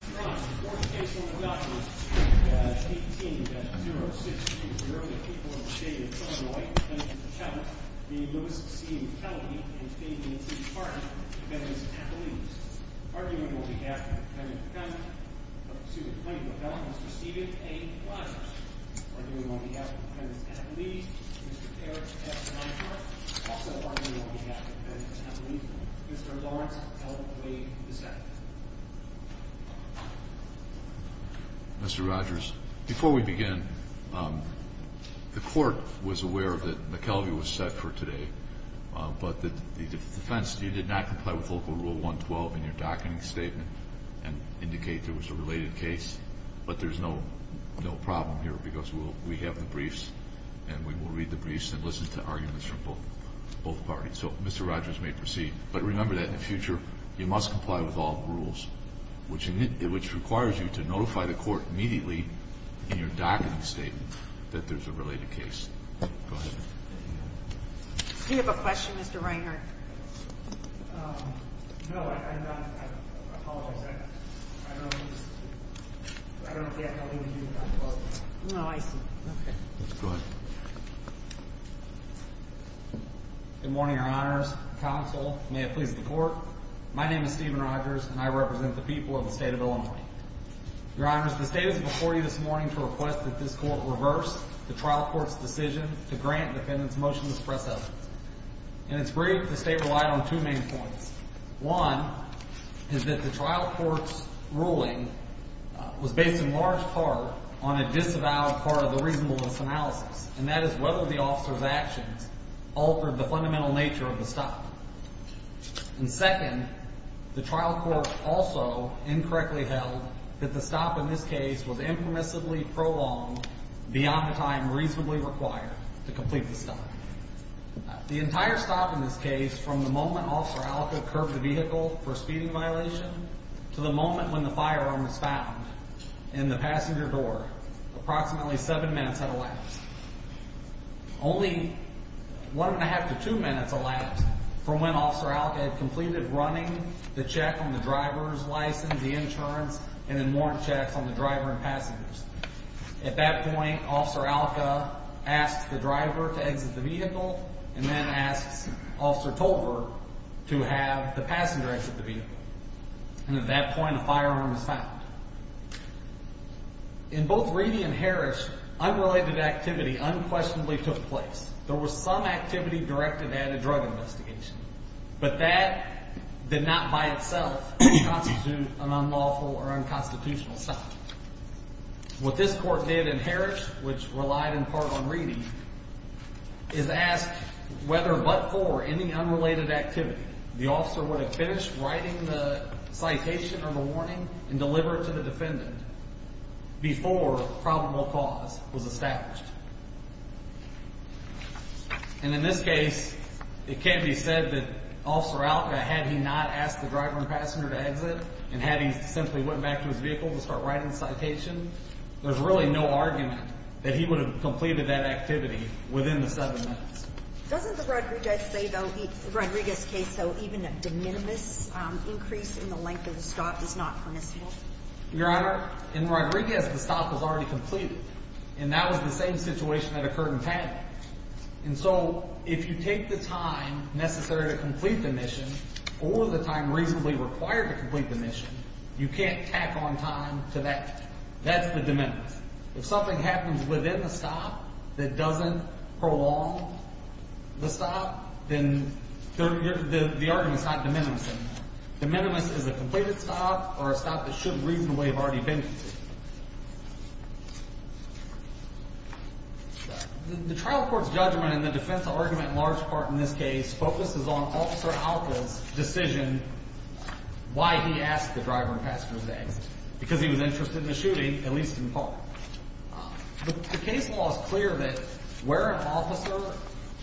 Mr. Ross, the court takes on the documents 18-0620, the people of the state of Illinois, defendant Mr. McKelvy, the notice of seeing McKelvy and statement of his partner, defendant Ms. McAuley. Arguing on behalf of the defendant McAuley, up to the point of the felon, Mr. Steven A. Rogers. Arguing on behalf of the defendant Ms. McAuley, Mr. Eric F. Monfort. Also arguing on behalf of the defendant Ms. McAuley, Mr. Lawrence L. Wade II. Mr. Rogers, before we begin, the court was aware that McKelvy was set for today, but the defense did not comply with local rule 112 in your docketing statement and indicate there was a related case. But there's no problem here because we have the briefs and we will read the briefs and listen to arguments from both parties. So Mr. Rogers may proceed, but remember that in the future, you must comply with all the rules, which requires you to notify the court immediately in your docketing statement that there's a related case. Go ahead. Do you have a question, Mr. Reinhart? No, I'm done. I apologize. I don't have anything to do with that quote. No, I see. Okay. Go ahead. Good morning, Your Honors. Counsel, may it please the court. My name is Stephen Rogers and I represent the people of the state of Illinois. Your Honors, the state is before you this morning to request that this court reverse the trial court's decision to grant defendants motion to suppress evidence. In its brief, the state relied on two main points. One is that the trial court's ruling was based in large part on a disavowed part of the reasonableness analysis, and that is whether the officer's actions altered the fundamental nature of the stop. And second, the trial court also incorrectly held that the stop in this case was impermissibly prolonged beyond the time reasonably required to complete the stop. The entire stop in this case, from the moment Officer Alka curbed the vehicle for speeding violation to the moment when the firearm was found in the passenger door, approximately seven minutes had elapsed. Only one and a half to two minutes elapsed from when Officer Alka had completed running the check on the driver's license, the insurance, and the warrant checks on the driver and passengers. At that point, Officer Alka asked the driver to exit the vehicle and then asked Officer Tolver to have the passenger exit the vehicle. And at that point, a firearm was found. In both Reedy and Harris, unrelated activity unquestionably took place. There was some activity directed at a drug investigation. But that did not by itself constitute an unlawful or unconstitutional stop. What this court did in Harris, which relied in part on Reedy, is ask whether but for any unrelated activity, the officer would have finished writing the citation or the warning and delivered it to the defendant before probable cause was established. And in this case, it can be said that Officer Alka, had he not asked the driver and passenger to exit, and had he simply went back to his vehicle to start writing the citation, there's really no argument that he would have completed that activity within the seven minutes. Doesn't the Rodriguez case, though, even a de minimis increase in the length of the stop is not permissible? Your Honor, in Rodriguez, the stop was already completed. And that was the same situation that occurred in Paddy. And so if you take the time necessary to complete the mission or the time reasonably required to complete the mission, you can't tack on time to that. That's the de minimis. If something happens within the stop that doesn't prolong the stop, then the argument is not de minimis anymore. De minimis is a completed stop or a stop that should reasonably have already been completed. The trial court's judgment and the defense argument in large part in this case focuses on Officer Alka's decision why he asked the driver and passenger to exit, because he was interested in the shooting, at least in part. The case law is clear that where an officer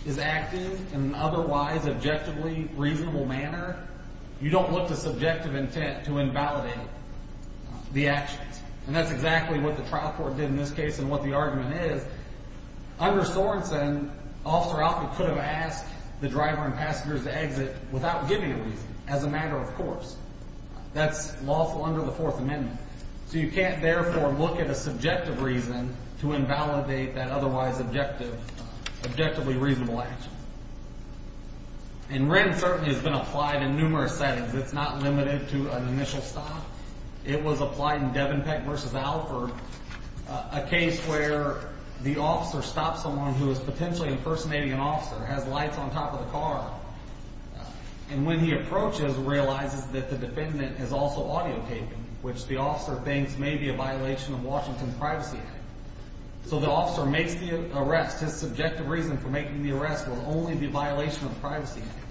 is acting in an otherwise objectively reasonable manner, you don't look to subjective intent to invalidate the actions. And that's exactly what the trial court did in this case and what the argument is. Under Sorensen, Officer Alka could have asked the driver and passengers to exit without giving a reason, as a matter of course. That's lawful under the Fourth Amendment. So you can't, therefore, look at a subjective reason to invalidate that otherwise objectively reasonable action. And Wren certainly has been applied in numerous settings. It's not limited to an initial stop. It was applied in Devenpeck v. Alford, a case where the officer stops someone who is potentially impersonating an officer, has lights on top of the car, and when he approaches, realizes that the defendant is also audio taping, which the officer thinks may be a violation of Washington's Privacy Act. So the officer makes the arrest. His subjective reason for making the arrest was only the violation of the Privacy Act,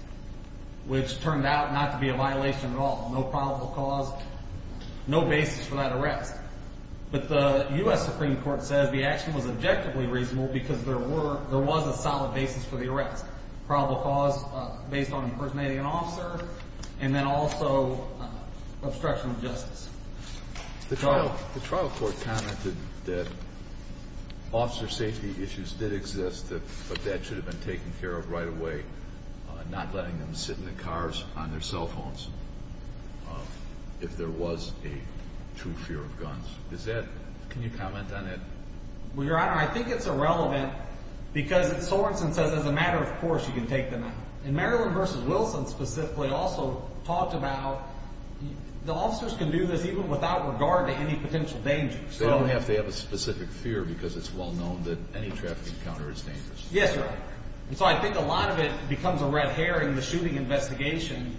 which turned out not to be a violation at all, no probable cause, no basis for that arrest. But the U.S. Supreme Court says the action was objectively reasonable because there was a solid basis for the arrest, probable cause based on impersonating an officer and then also obstruction of justice. The trial court commented that officer safety issues did exist, but that should have been taken care of right away, not letting them sit in the cars on their cell phones if there was a true fear of guns. Is that – can you comment on that? Well, Your Honor, I think it's irrelevant because Solrenson says as a matter of course you can take them out. And Maryland v. Wilson specifically also talked about the officers can do this even without regard to any potential danger. So they don't have to have a specific fear because it's well known that any trafficking encounter is dangerous. Yes, Your Honor. And so I think a lot of it becomes a red herring. The shooting investigation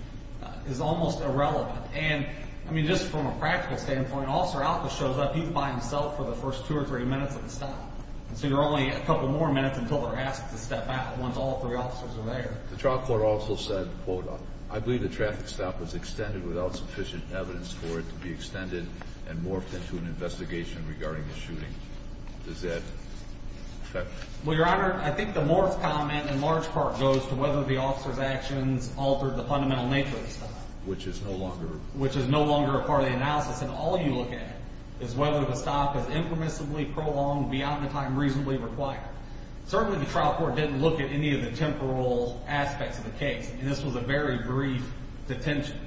is almost irrelevant. And, I mean, just from a practical standpoint, Officer Alka shows up, he's by himself for the first two or three minutes of the stop. And so you're only a couple more minutes until they're asked to step out once all three officers are there. The trial court also said, quote, I believe the traffic stop was extended without sufficient evidence for it to be extended and morphed into an investigation regarding the shooting. Does that – Well, Your Honor, I think the morphed comment in large part goes to whether the officers' actions altered the fundamental nature of the stop. Which is no longer – Which is no longer a part of the analysis. And all you look at is whether the stop is impermissibly prolonged beyond the time reasonably required. Certainly the trial court didn't look at any of the temporal aspects of the case. And this was a very brief detention,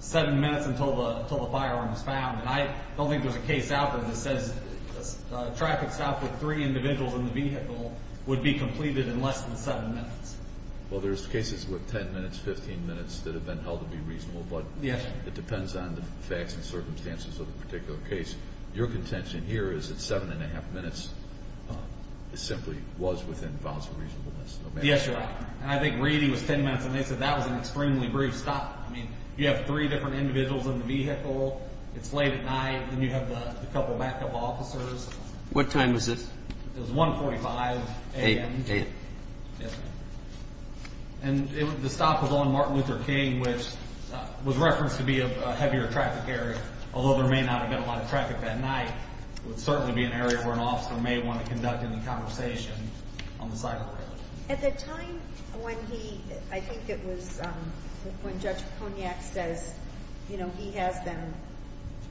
seven minutes until the firearm was found. And I don't think there's a case out there that says a traffic stop with three individuals in the vehicle would be completed in less than seven minutes. Well, there's cases with 10 minutes, 15 minutes that have been held to be reasonable. Yes. It depends on the facts and circumstances of the particular case. Your contention here is that seven and a half minutes simply was within bounds of reasonableness. Yes, Your Honor. And I think Reedy was 10 minutes, and they said that was an extremely brief stop. I mean, you have three different individuals in the vehicle. It's late at night, and you have a couple backup officers. What time was this? It was 1.45 a.m. A.M. Yes, sir. And the stop was on Martin Luther King, which was referenced to be a heavier traffic area, although there may not have been a lot of traffic that night. It would certainly be an area where an officer may want to conduct any conversation on the side of the road. At the time when he – I think it was when Judge Poniak says, you know, he has them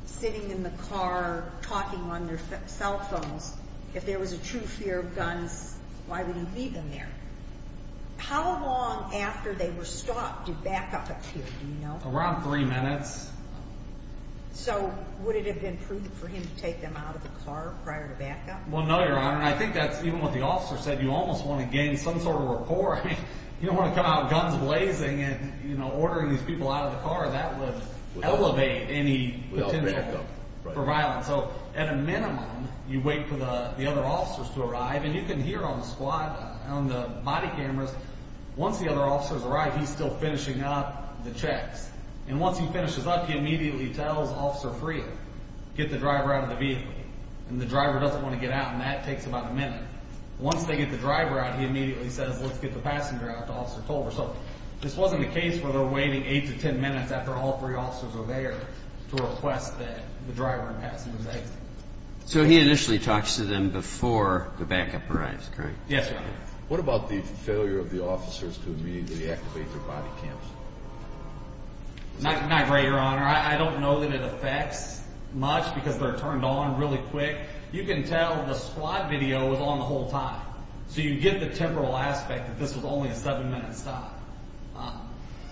sitting in the car talking on their cell phones, if there was a true fear of guns, why would he leave them there? How long after they were stopped did backup appear, do you know? Around three minutes. So would it have been prudent for him to take them out of the car prior to backup? Well, no, Your Honor. I think that's even what the officer said. You almost want to gain some sort of rapport. I mean, you don't want to come out guns blazing and, you know, ordering these people out of the car. That would elevate any potential for violence. So at a minimum, you wait for the other officers to arrive. And you can hear on the squad, on the body cameras, once the other officers arrive, he's still finishing up the checks. And once he finishes up, he immediately tells Officer Freer, get the driver out of the vehicle. And the driver doesn't want to get out, and that takes about a minute. Once they get the driver out, he immediately says, let's get the passenger out to Officer Tolver. So this wasn't a case where they're waiting eight to ten minutes after all three officers are there to request that the driver and passenger is exited. So he initially talks to them before the backup arrives, correct? Yes, Your Honor. What about the failure of the officers to immediately activate their body cameras? Not great, Your Honor. I don't know that it affects much because they're turned on really quick. You can tell the squad video was on the whole time. So you get the temporal aspect that this was only a seven-minute stop.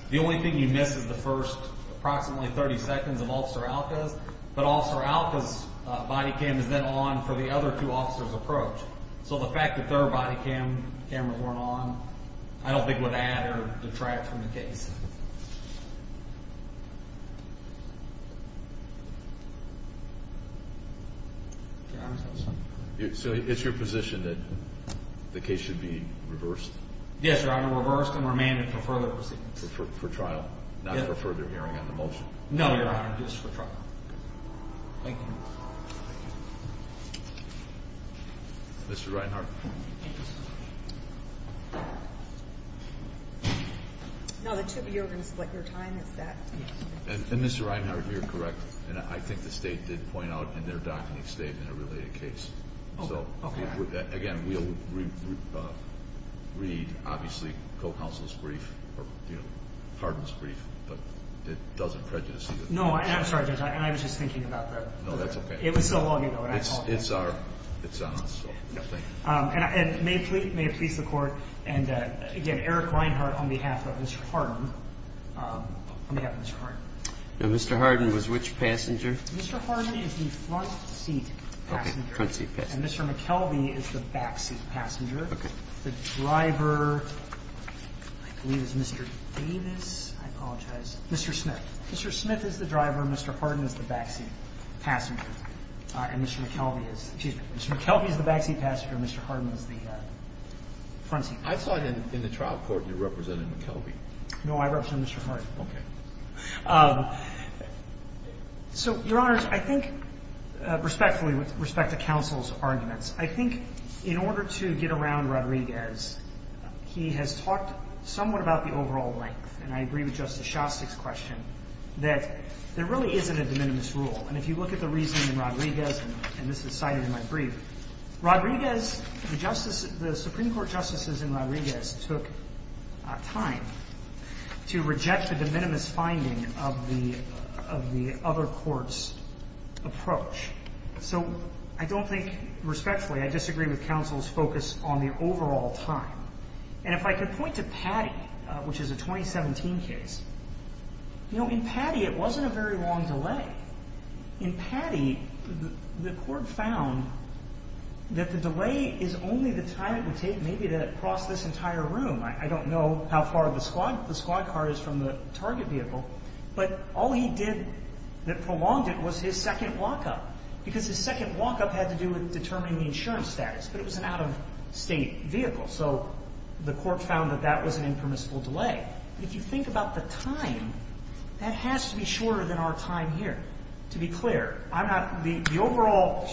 The only thing you miss is the first approximately 30 seconds of Officer Alka's. But Officer Alka's body cam is then on for the other two officers' approach. So the fact that their body cameras weren't on, I don't think would add or detract from the case. So it's your position that the case should be reversed? Yes, Your Honor, reversed and remanded for further proceedings. For trial, not for further hearing on the motion? No, Your Honor, just for trial. Thank you. Mr. Reinhardt? No, the two of you are going to split your time. Is that...? And Mr. Reinhardt, you're correct. I think the State did point out in their document stating a related case. So, again, we'll read, obviously, co-counsel's brief or pardon's brief. But it doesn't prejudice you. No, I'm sorry, Judge. I was just thinking about that. No, that's okay. It was so long ago. It's on us. Thank you. And may it please the Court, and, again, Eric Reinhardt on behalf of Mr. Harden. On behalf of Mr. Harden. Now, Mr. Harden was which passenger? Mr. Harden is the front seat passenger. Okay. Front seat passenger. And Mr. McKelvey is the back seat passenger. Okay. The driver, I believe, is Mr. Davis. I apologize. Mr. Smith. Mr. Smith is the driver and Mr. Harden is the back seat passenger. And Mr. McKelvey is the back seat passenger and Mr. Harden is the front seat passenger. I thought in the trial court you represented McKelvey. No, I represented Mr. Harden. Okay. So, Your Honors, I think, respectfully, with respect to counsel's arguments, I think in order to get around Rodriguez, he has talked somewhat about the overall length, and I agree with Justice Shostak's question, that there really isn't a de minimis rule. And if you look at the reasoning in Rodriguez, and this is cited in my brief, Rodriguez, the Supreme Court justices in Rodriguez took time to reject the de minimis finding of the other court's approach. So I don't think respectfully I disagree with counsel's focus on the overall time. And if I could point to Patty, which is a 2017 case, you know, in Patty it wasn't a very long delay. In Patty, the court found that the delay is only the time it would take maybe to cross this entire room. I don't know how far the squad car is from the target vehicle. But all he did that prolonged it was his second walk-up, because his second walk-up had to do with determining the insurance status, but it was an out-of-state vehicle. So the court found that that was an impermissible delay. If you think about the time, that has to be shorter than our time here. To be clear, the overall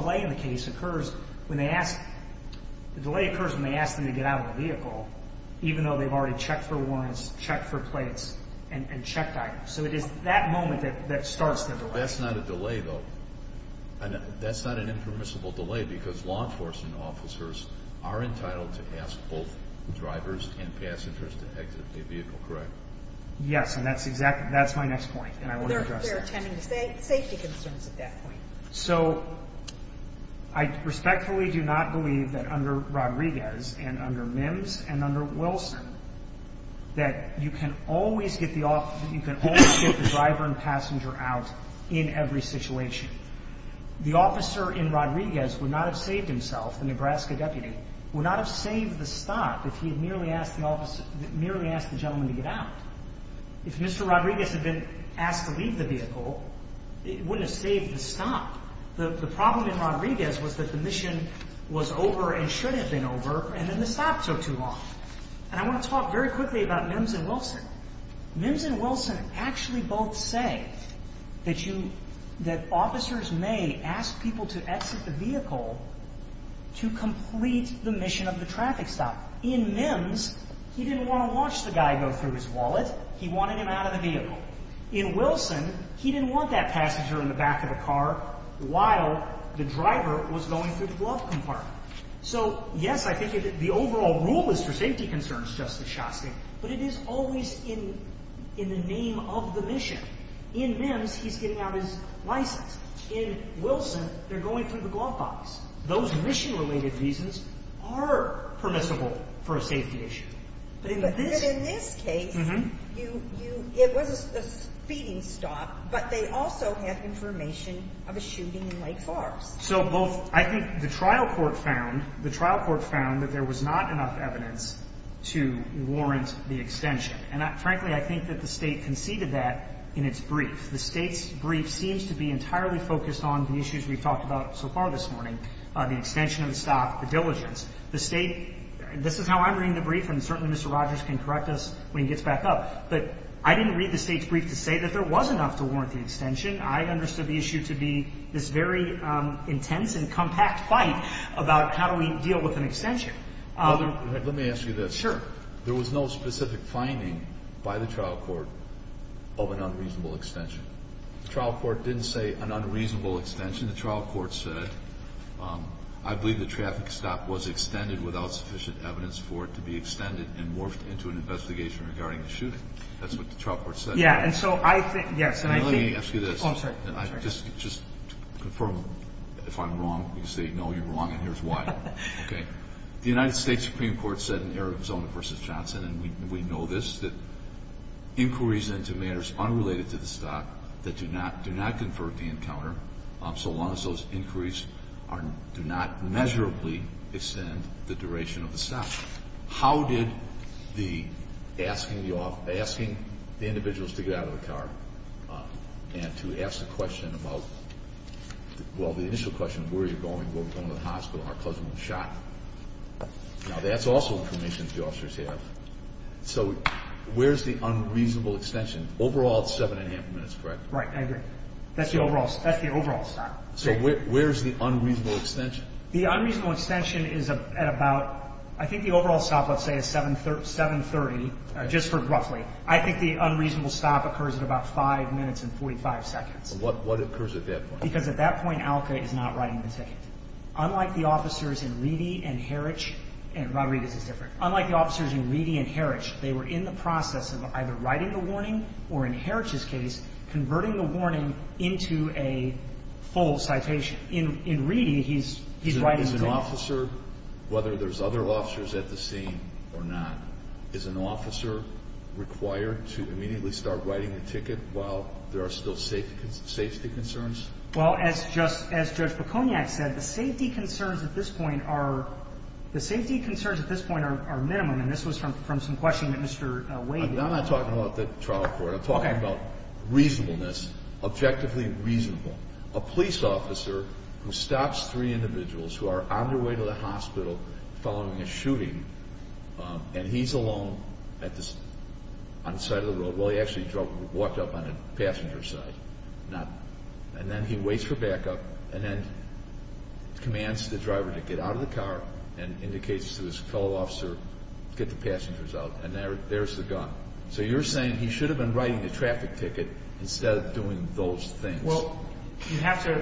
delay in the case occurs when they ask them to get out of the vehicle, even though they've already checked for warrants, checked for plates, and checked items. So it is that moment that starts the delay. That's not a delay, though. That's not an impermissible delay, because law enforcement officers are entitled to ask both drivers and passengers to exit a vehicle, correct? Yes, and that's my next point, and I want to address that. They're attending to safety concerns at that point. So I respectfully do not believe that under Rodriguez and under Mims and under Wilson that you can always get the driver and passenger out in every situation. The officer in Rodriguez would not have saved himself, the Nebraska deputy, would not have saved the stop if he had merely asked the gentleman to get out. If Mr. Rodriguez had been asked to leave the vehicle, it wouldn't have saved the stop. The problem in Rodriguez was that the mission was over and should have been over, and then the stop took too long. And I want to talk very quickly about Mims and Wilson. Mims and Wilson actually both say that officers may ask people to exit the vehicle to complete the mission of the traffic stop. In Mims, he didn't want to watch the guy go through his wallet. He wanted him out of the vehicle. In Wilson, he didn't want that passenger in the back of the car while the driver was going through the glove compartment. So, yes, I think the overall rule is for safety concerns, Justice Shostak, but it is always in the name of the mission. In Mims, he's getting out his license. In Wilson, they're going through the glove box. Those mission-related reasons are permissible for a safety issue. But in this case, you – it was a speeding stop, but they also have information of a shooting in Lake Forest. So both – I think the trial court found – the trial court found that there was not enough evidence to warrant the extension. And, frankly, I think that the State conceded that in its brief. The State's brief seems to be entirely focused on the issues we've talked about so far this morning, the extension of the stop, the diligence. The State – this is how I'm reading the brief, and certainly Mr. Rogers can correct us when he gets back up. But I didn't read the State's brief to say that there was enough to warrant the extension. I understood the issue to be this very intense and compact fight about how do we deal with an extension. Let me ask you this. Sure. There was no specific finding by the trial court of an unreasonable extension. The trial court didn't say an unreasonable extension. The trial court said, I believe the traffic stop was extended without sufficient evidence for it to be extended and morphed into an investigation regarding the shooting. That's what the trial court said. Yeah, and so I think – yes, and I think – Let me ask you this. Oh, I'm sorry. Just to confirm if I'm wrong, because they know you're wrong and here's why. Okay. The United States Supreme Court said in Arizona v. Johnson, and we know this, that inquiries into matters unrelated to the stop that do not confer the encounter, so long as those inquiries do not measurably extend the duration of the stop. How did the – asking the individuals to get out of the car and to ask the question about – well, the initial question, where are you going? We're going to the hospital. Our cousin was shot. Now, that's also information the officers have. So where's the unreasonable extension? Overall, it's seven and a half minutes, correct? Right. I agree. That's the overall stop. So where's the unreasonable extension? The unreasonable extension is at about – I think the overall stop, let's say, is 730, just for roughly. I think the unreasonable stop occurs at about 5 minutes and 45 seconds. What occurs at that point? Because at that point, ALCA is not writing the ticket. Unlike the officers in Reedy and Heritch – and Rodriguez is different. Unlike the officers in Reedy and Heritch, they were in the process of either writing the warning or, in Heritch's case, converting the warning into a full citation. In Heritch, in Reedy, he's writing the ticket. Is an officer, whether there's other officers at the scene or not, is an officer required to immediately start writing the ticket while there are still safety concerns? Well, as Judge Piconiak said, the safety concerns at this point are minimum. And this was from some questioning that Mr. Wade did. I'm not talking about the trial court. I'm talking about reasonableness, objectively reasonable. A police officer who stops three individuals who are on their way to the hospital following a shooting, and he's alone on the side of the road. Well, he actually walked up on the passenger side. And then he waits for backup and then commands the driver to get out of the car and indicates to his fellow officer to get the passengers out. And there's the gun. So you're saying he should have been writing the traffic ticket instead of doing those things. Well, you have to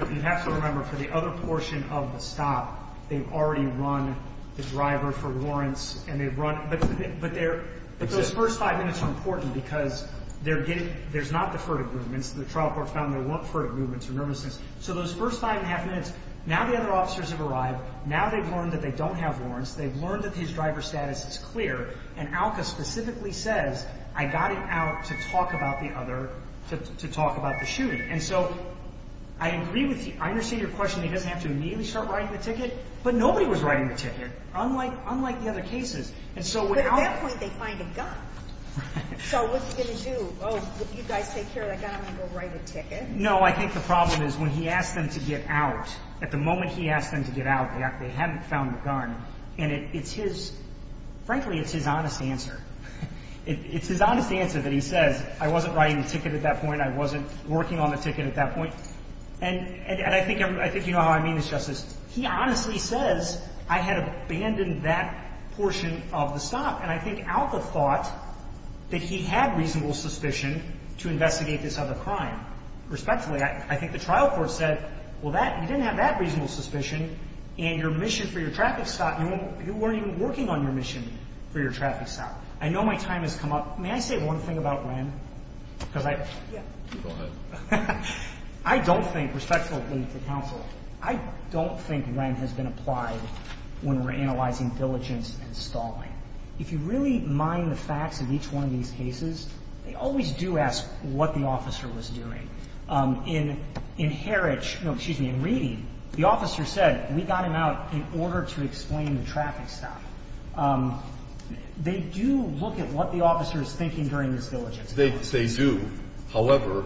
remember for the other portion of the stop, they've already run the driver for warrants and they've run. But those first five minutes are important because there's not the furtive movements. The trial court found there weren't furtive movements or nervousness. So those first five and a half minutes, now the other officers have arrived. Now they've learned that they don't have warrants. They've learned that his driver status is clear. And ALCA specifically says, I got him out to talk about the other, to talk about the shooting. And so I agree with you. I understand your question. He doesn't have to immediately start writing the ticket. But nobody was writing the ticket, unlike the other cases. But at that point, they find a gun. So what's he going to do? Oh, you guys take care of that gun. I'm going to go write a ticket. No, I think the problem is when he asked them to get out, at the moment he asked them to get out, they haven't found the gun. And it's his, frankly, it's his honest answer. It's his honest answer that he says, I wasn't writing the ticket at that point. I wasn't working on the ticket at that point. And I think you know how I mean this, Justice. He honestly says, I had abandoned that portion of the stop. And I think ALCA thought that he had reasonable suspicion to investigate this other crime. Respectfully, I think the trial court said, well, you didn't have that reasonable suspicion. And your mission for your traffic stop, you weren't even working on your mission for your traffic stop. I know my time has come up. May I say one thing about Wren? Go ahead. I don't think, respectfully to counsel, I don't think Wren has been applied when we're analyzing diligence and stalling. If you really mind the facts of each one of these cases, they always do ask what the officer was doing. In Heritch, no, excuse me, in Reedy, the officer said, we got him out in order to explain the traffic stop. They do look at what the officer is thinking during this diligence. They do. However,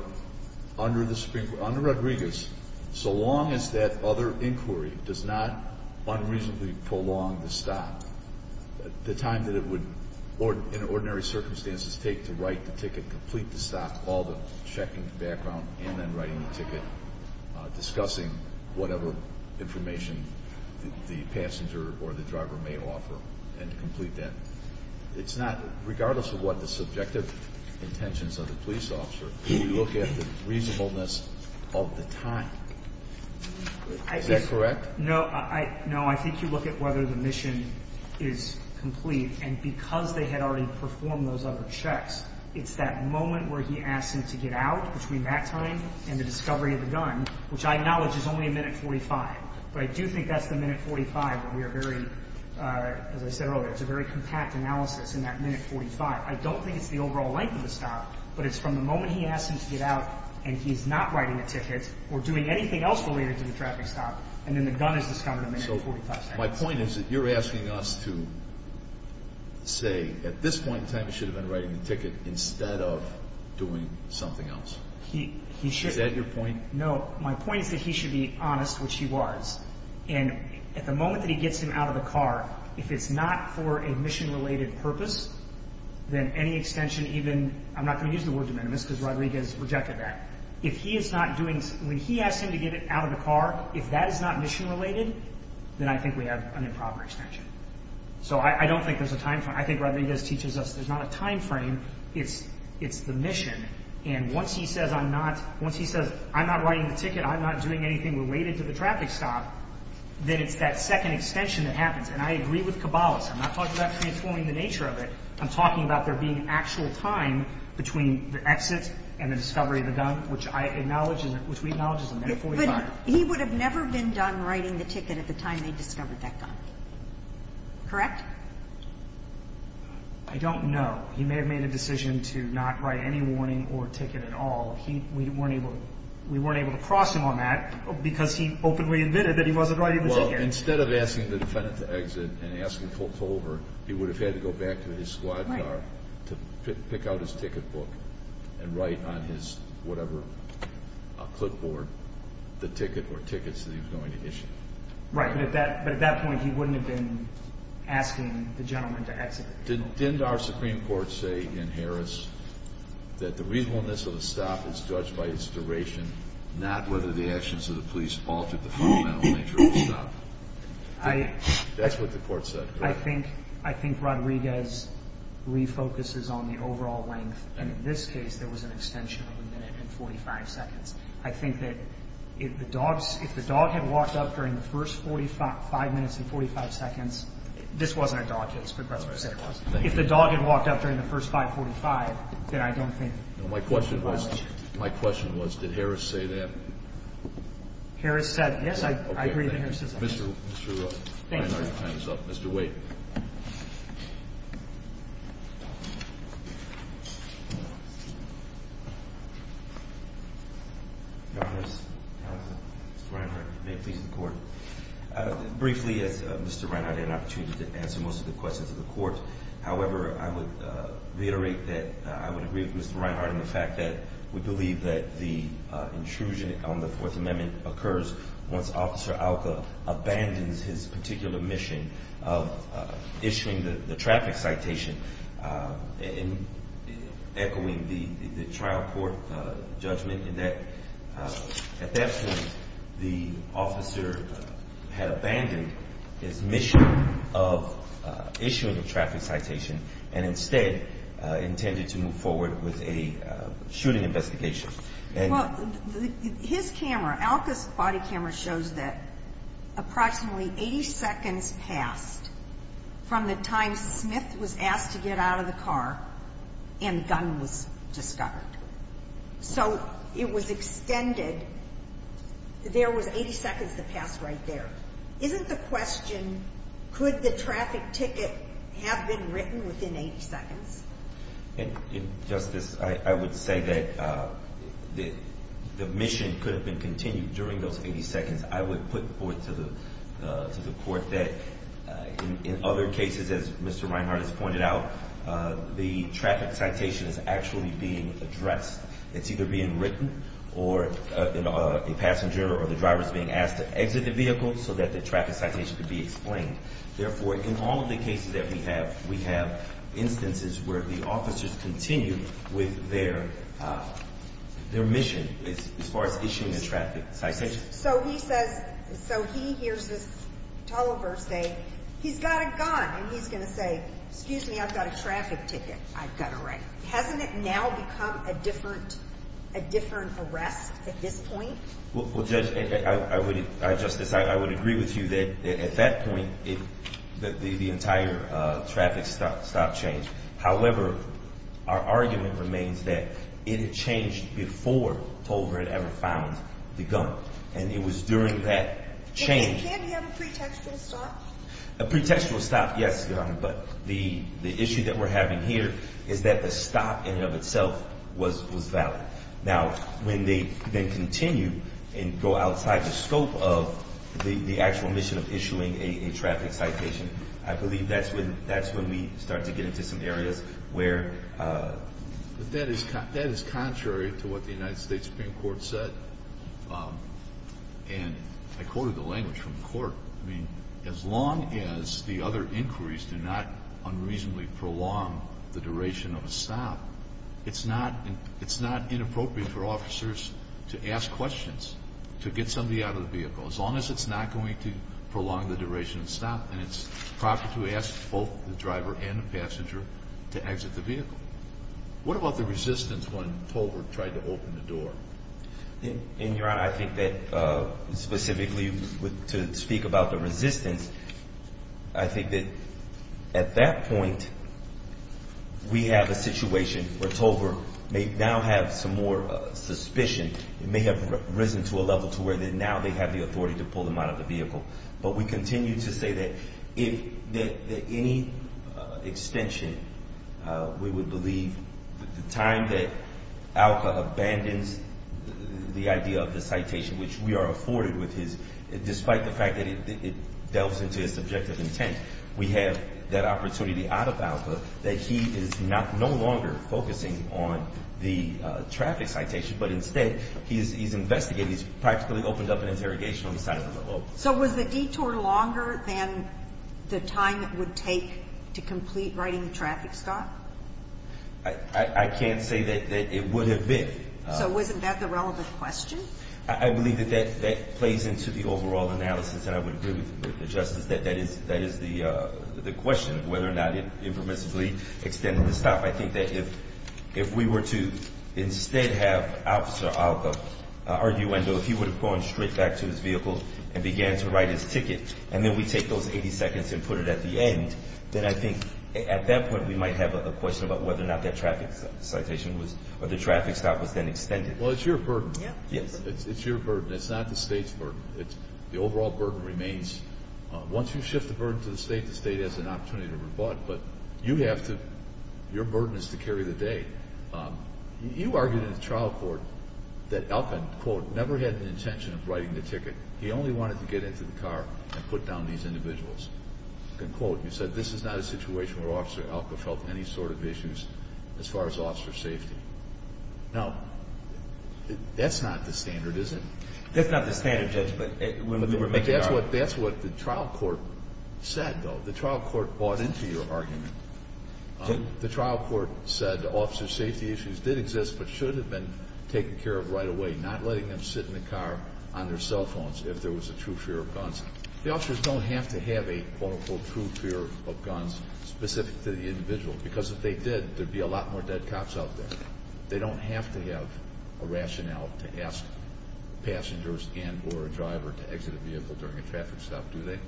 under the Supreme Court, under Rodriguez, so long as that other inquiry does not unreasonably prolong the stop, the time that it would, in ordinary circumstances, take to write the ticket, to complete the stop, all the checking background, and then writing the ticket, discussing whatever information the passenger or the driver may offer, and to complete that. It's not, regardless of what the subjective intentions of the police officer, you look at the reasonableness of the time. Is that correct? No, I think you look at whether the mission is complete. And because they had already performed those other checks, it's that moment where he asks him to get out between that time and the discovery of the gun, which I acknowledge is only a minute 45. But I do think that's the minute 45 where we are very, as I said earlier, it's a very compact analysis in that minute 45. I don't think it's the overall length of the stop, but it's from the moment he asks him to get out and he's not writing a ticket or doing anything else related to the traffic stop, and then the gun is discovered a minute 45. My point is that you're asking us to say at this point in time he should have been writing the ticket instead of doing something else. Is that your point? No. My point is that he should be honest, which he was. And at the moment that he gets him out of the car, if it's not for a mission-related purpose, then any extension even – I'm not going to use the word de minimis because Rodriguez rejected that. If he is not doing – when he asks him to get out of the car, if that is not mission-related, then I think we have an improper extension. So I don't think there's a timeframe. I think Rodriguez teaches us there's not a timeframe. It's the mission. And once he says I'm not – once he says I'm not writing the ticket, I'm not doing anything related to the traffic stop, then it's that second extension that happens. And I agree with Caballos. I'm not talking about transforming the nature of it. I'm talking about there being actual time between the exit and the discovery of the gun, which I acknowledge and which we acknowledge is a minute 45. He would have never been done writing the ticket at the time they discovered that gun. Correct? I don't know. He may have made a decision to not write any warning or ticket at all. We weren't able to cross him on that because he openly admitted that he wasn't writing the ticket. Well, instead of asking the defendant to exit and asking to pull over, he would have had to go back to his squad car to pick out his ticket book and write on his whatever clipboard the ticket or tickets that he was going to issue. Right, but at that point he wouldn't have been asking the gentleman to exit. Didn't our Supreme Court say in Harris that the reasonableness of the stop is judged by its duration, not whether the actions of the police altered the fundamental nature of the stop? That's what the Court said, correct? I think Rodriguez refocuses on the overall length. In this case, there was an extension of a minute and 45 seconds. I think that if the dog had walked up during the first five minutes and 45 seconds, this wasn't a dog case, but that's what I said it was. If the dog had walked up during the first 545, then I don't think it would be a violation. My question was, did Harris say that? Harris said, yes, I agree that Harris said that. Okay, thank you. Your Honors, Mr. Reinhardt, may it please the Court. Briefly, as Mr. Reinhardt had an opportunity to answer most of the questions of the Court, however, I would reiterate that I would agree with Mr. Reinhardt in the fact that we believe that the intrusion on the Fourth Amendment occurs once Officer Alka abandons his particular mission of issuing the traffic citation and echoing the trial court judgment in that at that point the officer had abandoned his mission of issuing a traffic citation and instead intended to move forward with a shooting investigation. Well, his camera, Alka's quality camera shows that approximately 80 seconds passed from the time Smith was asked to get out of the car and the gun was discovered. So it was extended. There was 80 seconds that passed right there. Isn't the question, could the traffic ticket have been written within 80 seconds? Justice, I would say that the mission could have been continued during those 80 seconds. I would put forth to the Court that in other cases, as Mr. Reinhardt has pointed out, the traffic citation is actually being addressed. It's either being written or a passenger or the driver is being asked to exit the vehicle so that the traffic citation could be explained. Therefore, in all of the cases that we have, we have instances where the officers continue with their mission as far as issuing a traffic citation. So he says, so he hears this teleburst say, he's got a gun, and he's going to say, excuse me, I've got a traffic ticket, I've got to write. Hasn't it now become a different arrest at this point? Well, Judge, Justice, I would agree with you that at that point the entire traffic stop changed. However, our argument remains that it had changed before Tolbert had ever found the gun. And it was during that change. Can you have a pretextual stop? A pretextual stop, yes, Your Honor. But the issue that we're having here is that the stop in and of itself was valid. Now, when they then continue and go outside the scope of the actual mission of issuing a traffic citation, I believe that's when we start to get into some areas where... But that is contrary to what the United States Supreme Court said. And I quoted the language from the court. I mean, as long as the other inquiries do not unreasonably prolong the duration of a stop, it's not inappropriate for officers to ask questions to get somebody out of the vehicle, as long as it's not going to prolong the duration of a stop. And it's proper to ask both the driver and the passenger to exit the vehicle. What about the resistance when Tolbert tried to open the door? And, Your Honor, I think that specifically to speak about the resistance, I think that at that point we have a situation where Tolbert may now have some more suspicion. It may have risen to a level to where now they have the authority to pull him out of the vehicle. But we continue to say that if any extension, we would believe the time that ALCA abandons the idea of the citation, which we are afforded with his, despite the fact that it delves into his subjective intent. We have that opportunity out of ALCA that he is no longer focusing on the traffic citation, but instead he's investigating, he's practically opened up an interrogation on the side of the law. So was the detour longer than the time it would take to complete writing the traffic stop? I can't say that it would have been. So wasn't that the relevant question? I believe that that plays into the overall analysis, and I would agree with the Justice that that is the question, whether or not it impermissibly extended the stop. I think that if we were to instead have Officer ALCA argue, even though if he would have gone straight back to his vehicle and began to write his ticket, and then we take those 80 seconds and put it at the end, then I think at that point we might have a question about whether or not that traffic citation was, or the traffic stop was then extended. Well, it's your burden. Yes. It's your burden. It's not the State's burden. The overall burden remains. Once you shift the burden to the State, the State has an opportunity to rebut, but you have to – your burden is to carry the day. You argued in the trial court that ALCA, quote, never had an intention of writing the ticket. He only wanted to get into the car and put down these individuals. And, quote, you said this is not a situation where Officer ALCA felt any sort of issues as far as officer safety. Now, that's not the standard, is it? That's not the standard, Judge, but when we were making our argument. That's what the trial court said, though. The trial court bought into your argument. The trial court said officer safety issues did exist but should have been taken care of right away, not letting them sit in the car on their cell phones if there was a true fear of guns. The officers don't have to have a, quote, unquote, true fear of guns specific to the individual, because if they did, there would be a lot more dead cops out there. They don't have to have a rationale to ask passengers and or a driver to exit a vehicle during a traffic stop, do they?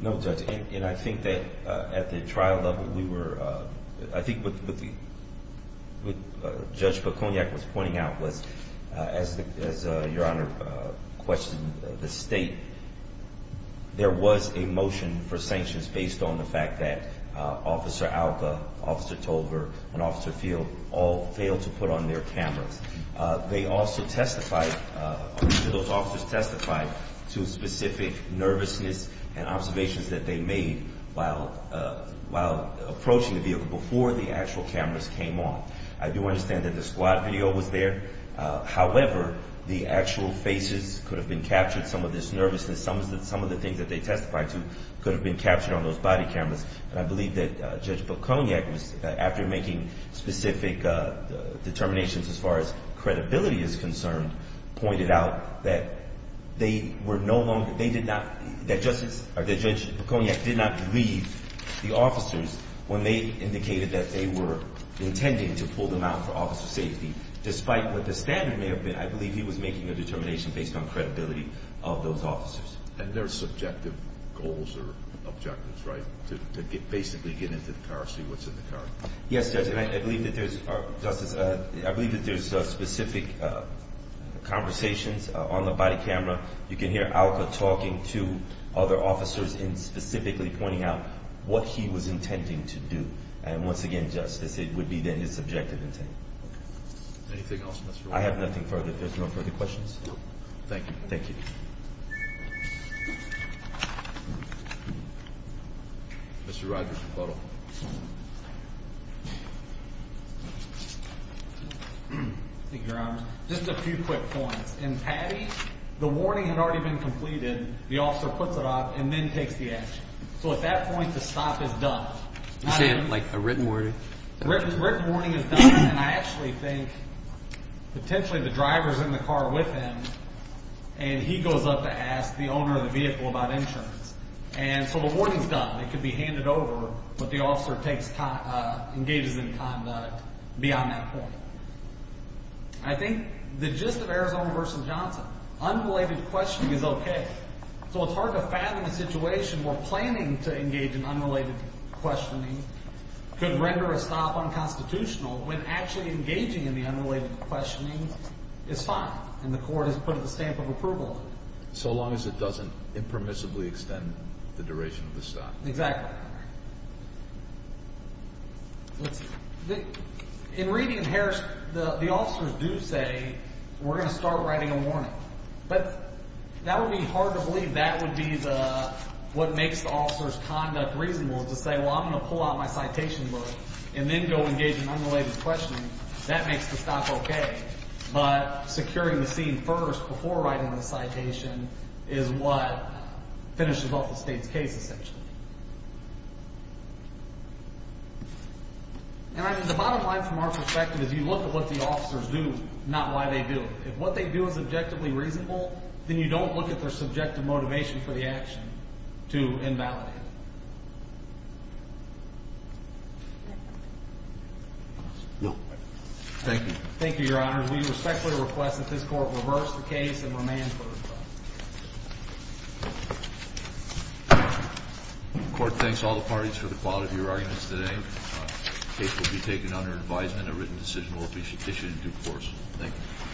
No, Judge, and I think that at the trial level, we were – I think what Judge Poconiak was pointing out was, as Your Honor questioned the State, there was a motion for sanctions based on the fact that Officer ALCA, Officer Tolbert, and Officer Field all failed to put on their cameras. They also testified – those officers testified to specific nervousness and observations that they made while approaching the vehicle before the actual cameras came on. I do understand that the squad video was there. However, the actual faces could have been captured, some of this nervousness, some of the things that they testified to could have been captured on those body cameras. And I believe that Judge Poconiak was – after making specific determinations as far as credibility is concerned, pointed out that they were no longer – they did not – that Justice – or that Judge Poconiak did not leave the officers when they indicated that they were intending to pull them out for officer safety. Despite what the standard may have been, I believe he was making a determination based on credibility of those officers. And there are subjective goals or objectives, right, to basically get into the car, see what's in the car? Yes, Judge, and I believe that there's – Justice, I believe that there's specific conversations on the body camera. You can hear ALCA talking to other officers and specifically pointing out what he was intending to do. And once again, Justice, it would be then his subjective intent. Anything else, Mr. Wright? I have nothing further. If there's no further questions. Thank you. Thank you. Mr. Rogers, rebuttal. Thank you, Your Honor. Just a few quick points. In Patty, the warning had already been completed. The officer puts it off and then takes the action. So at that point, the stop is done. You're saying like a written warning? Written warning is done, and I actually think potentially the driver's in the car with him, and he goes up to ask the owner of the vehicle about insurance. And so the warning's done. It can be handed over, but the officer takes – engages in conduct beyond that point. I think the gist of Arizona v. Johnson, unrelated questioning is okay. So it's hard to fathom a situation where planning to engage in unrelated questioning could render a stop unconstitutional when actually engaging in the unrelated questioning is fine. And the court has put up a stamp of approval. So long as it doesn't impermissibly extend the duration of the stop. Exactly. In reading Harris, the officers do say we're going to start writing a warning. But that would be hard to believe. That would be the – what makes the officer's conduct reasonable to say, well, I'm going to pull out my citation book and then go engage in unrelated questioning. That makes the stop okay. But securing the scene first before writing the citation is what finishes off the state's case, essentially. And the bottom line from our perspective is you look at what the officers do, not why they do it. If what they do is objectively reasonable, then you don't look at their subjective motivation for the action to invalidate it. No. Thank you. Thank you, Your Honor. We respectfully request that this Court reverse the case and remand further trial. The Court thanks all the parties for the quality of your arguments today. The case will be taken under advisement. A written decision will be issued in due course. Thank you.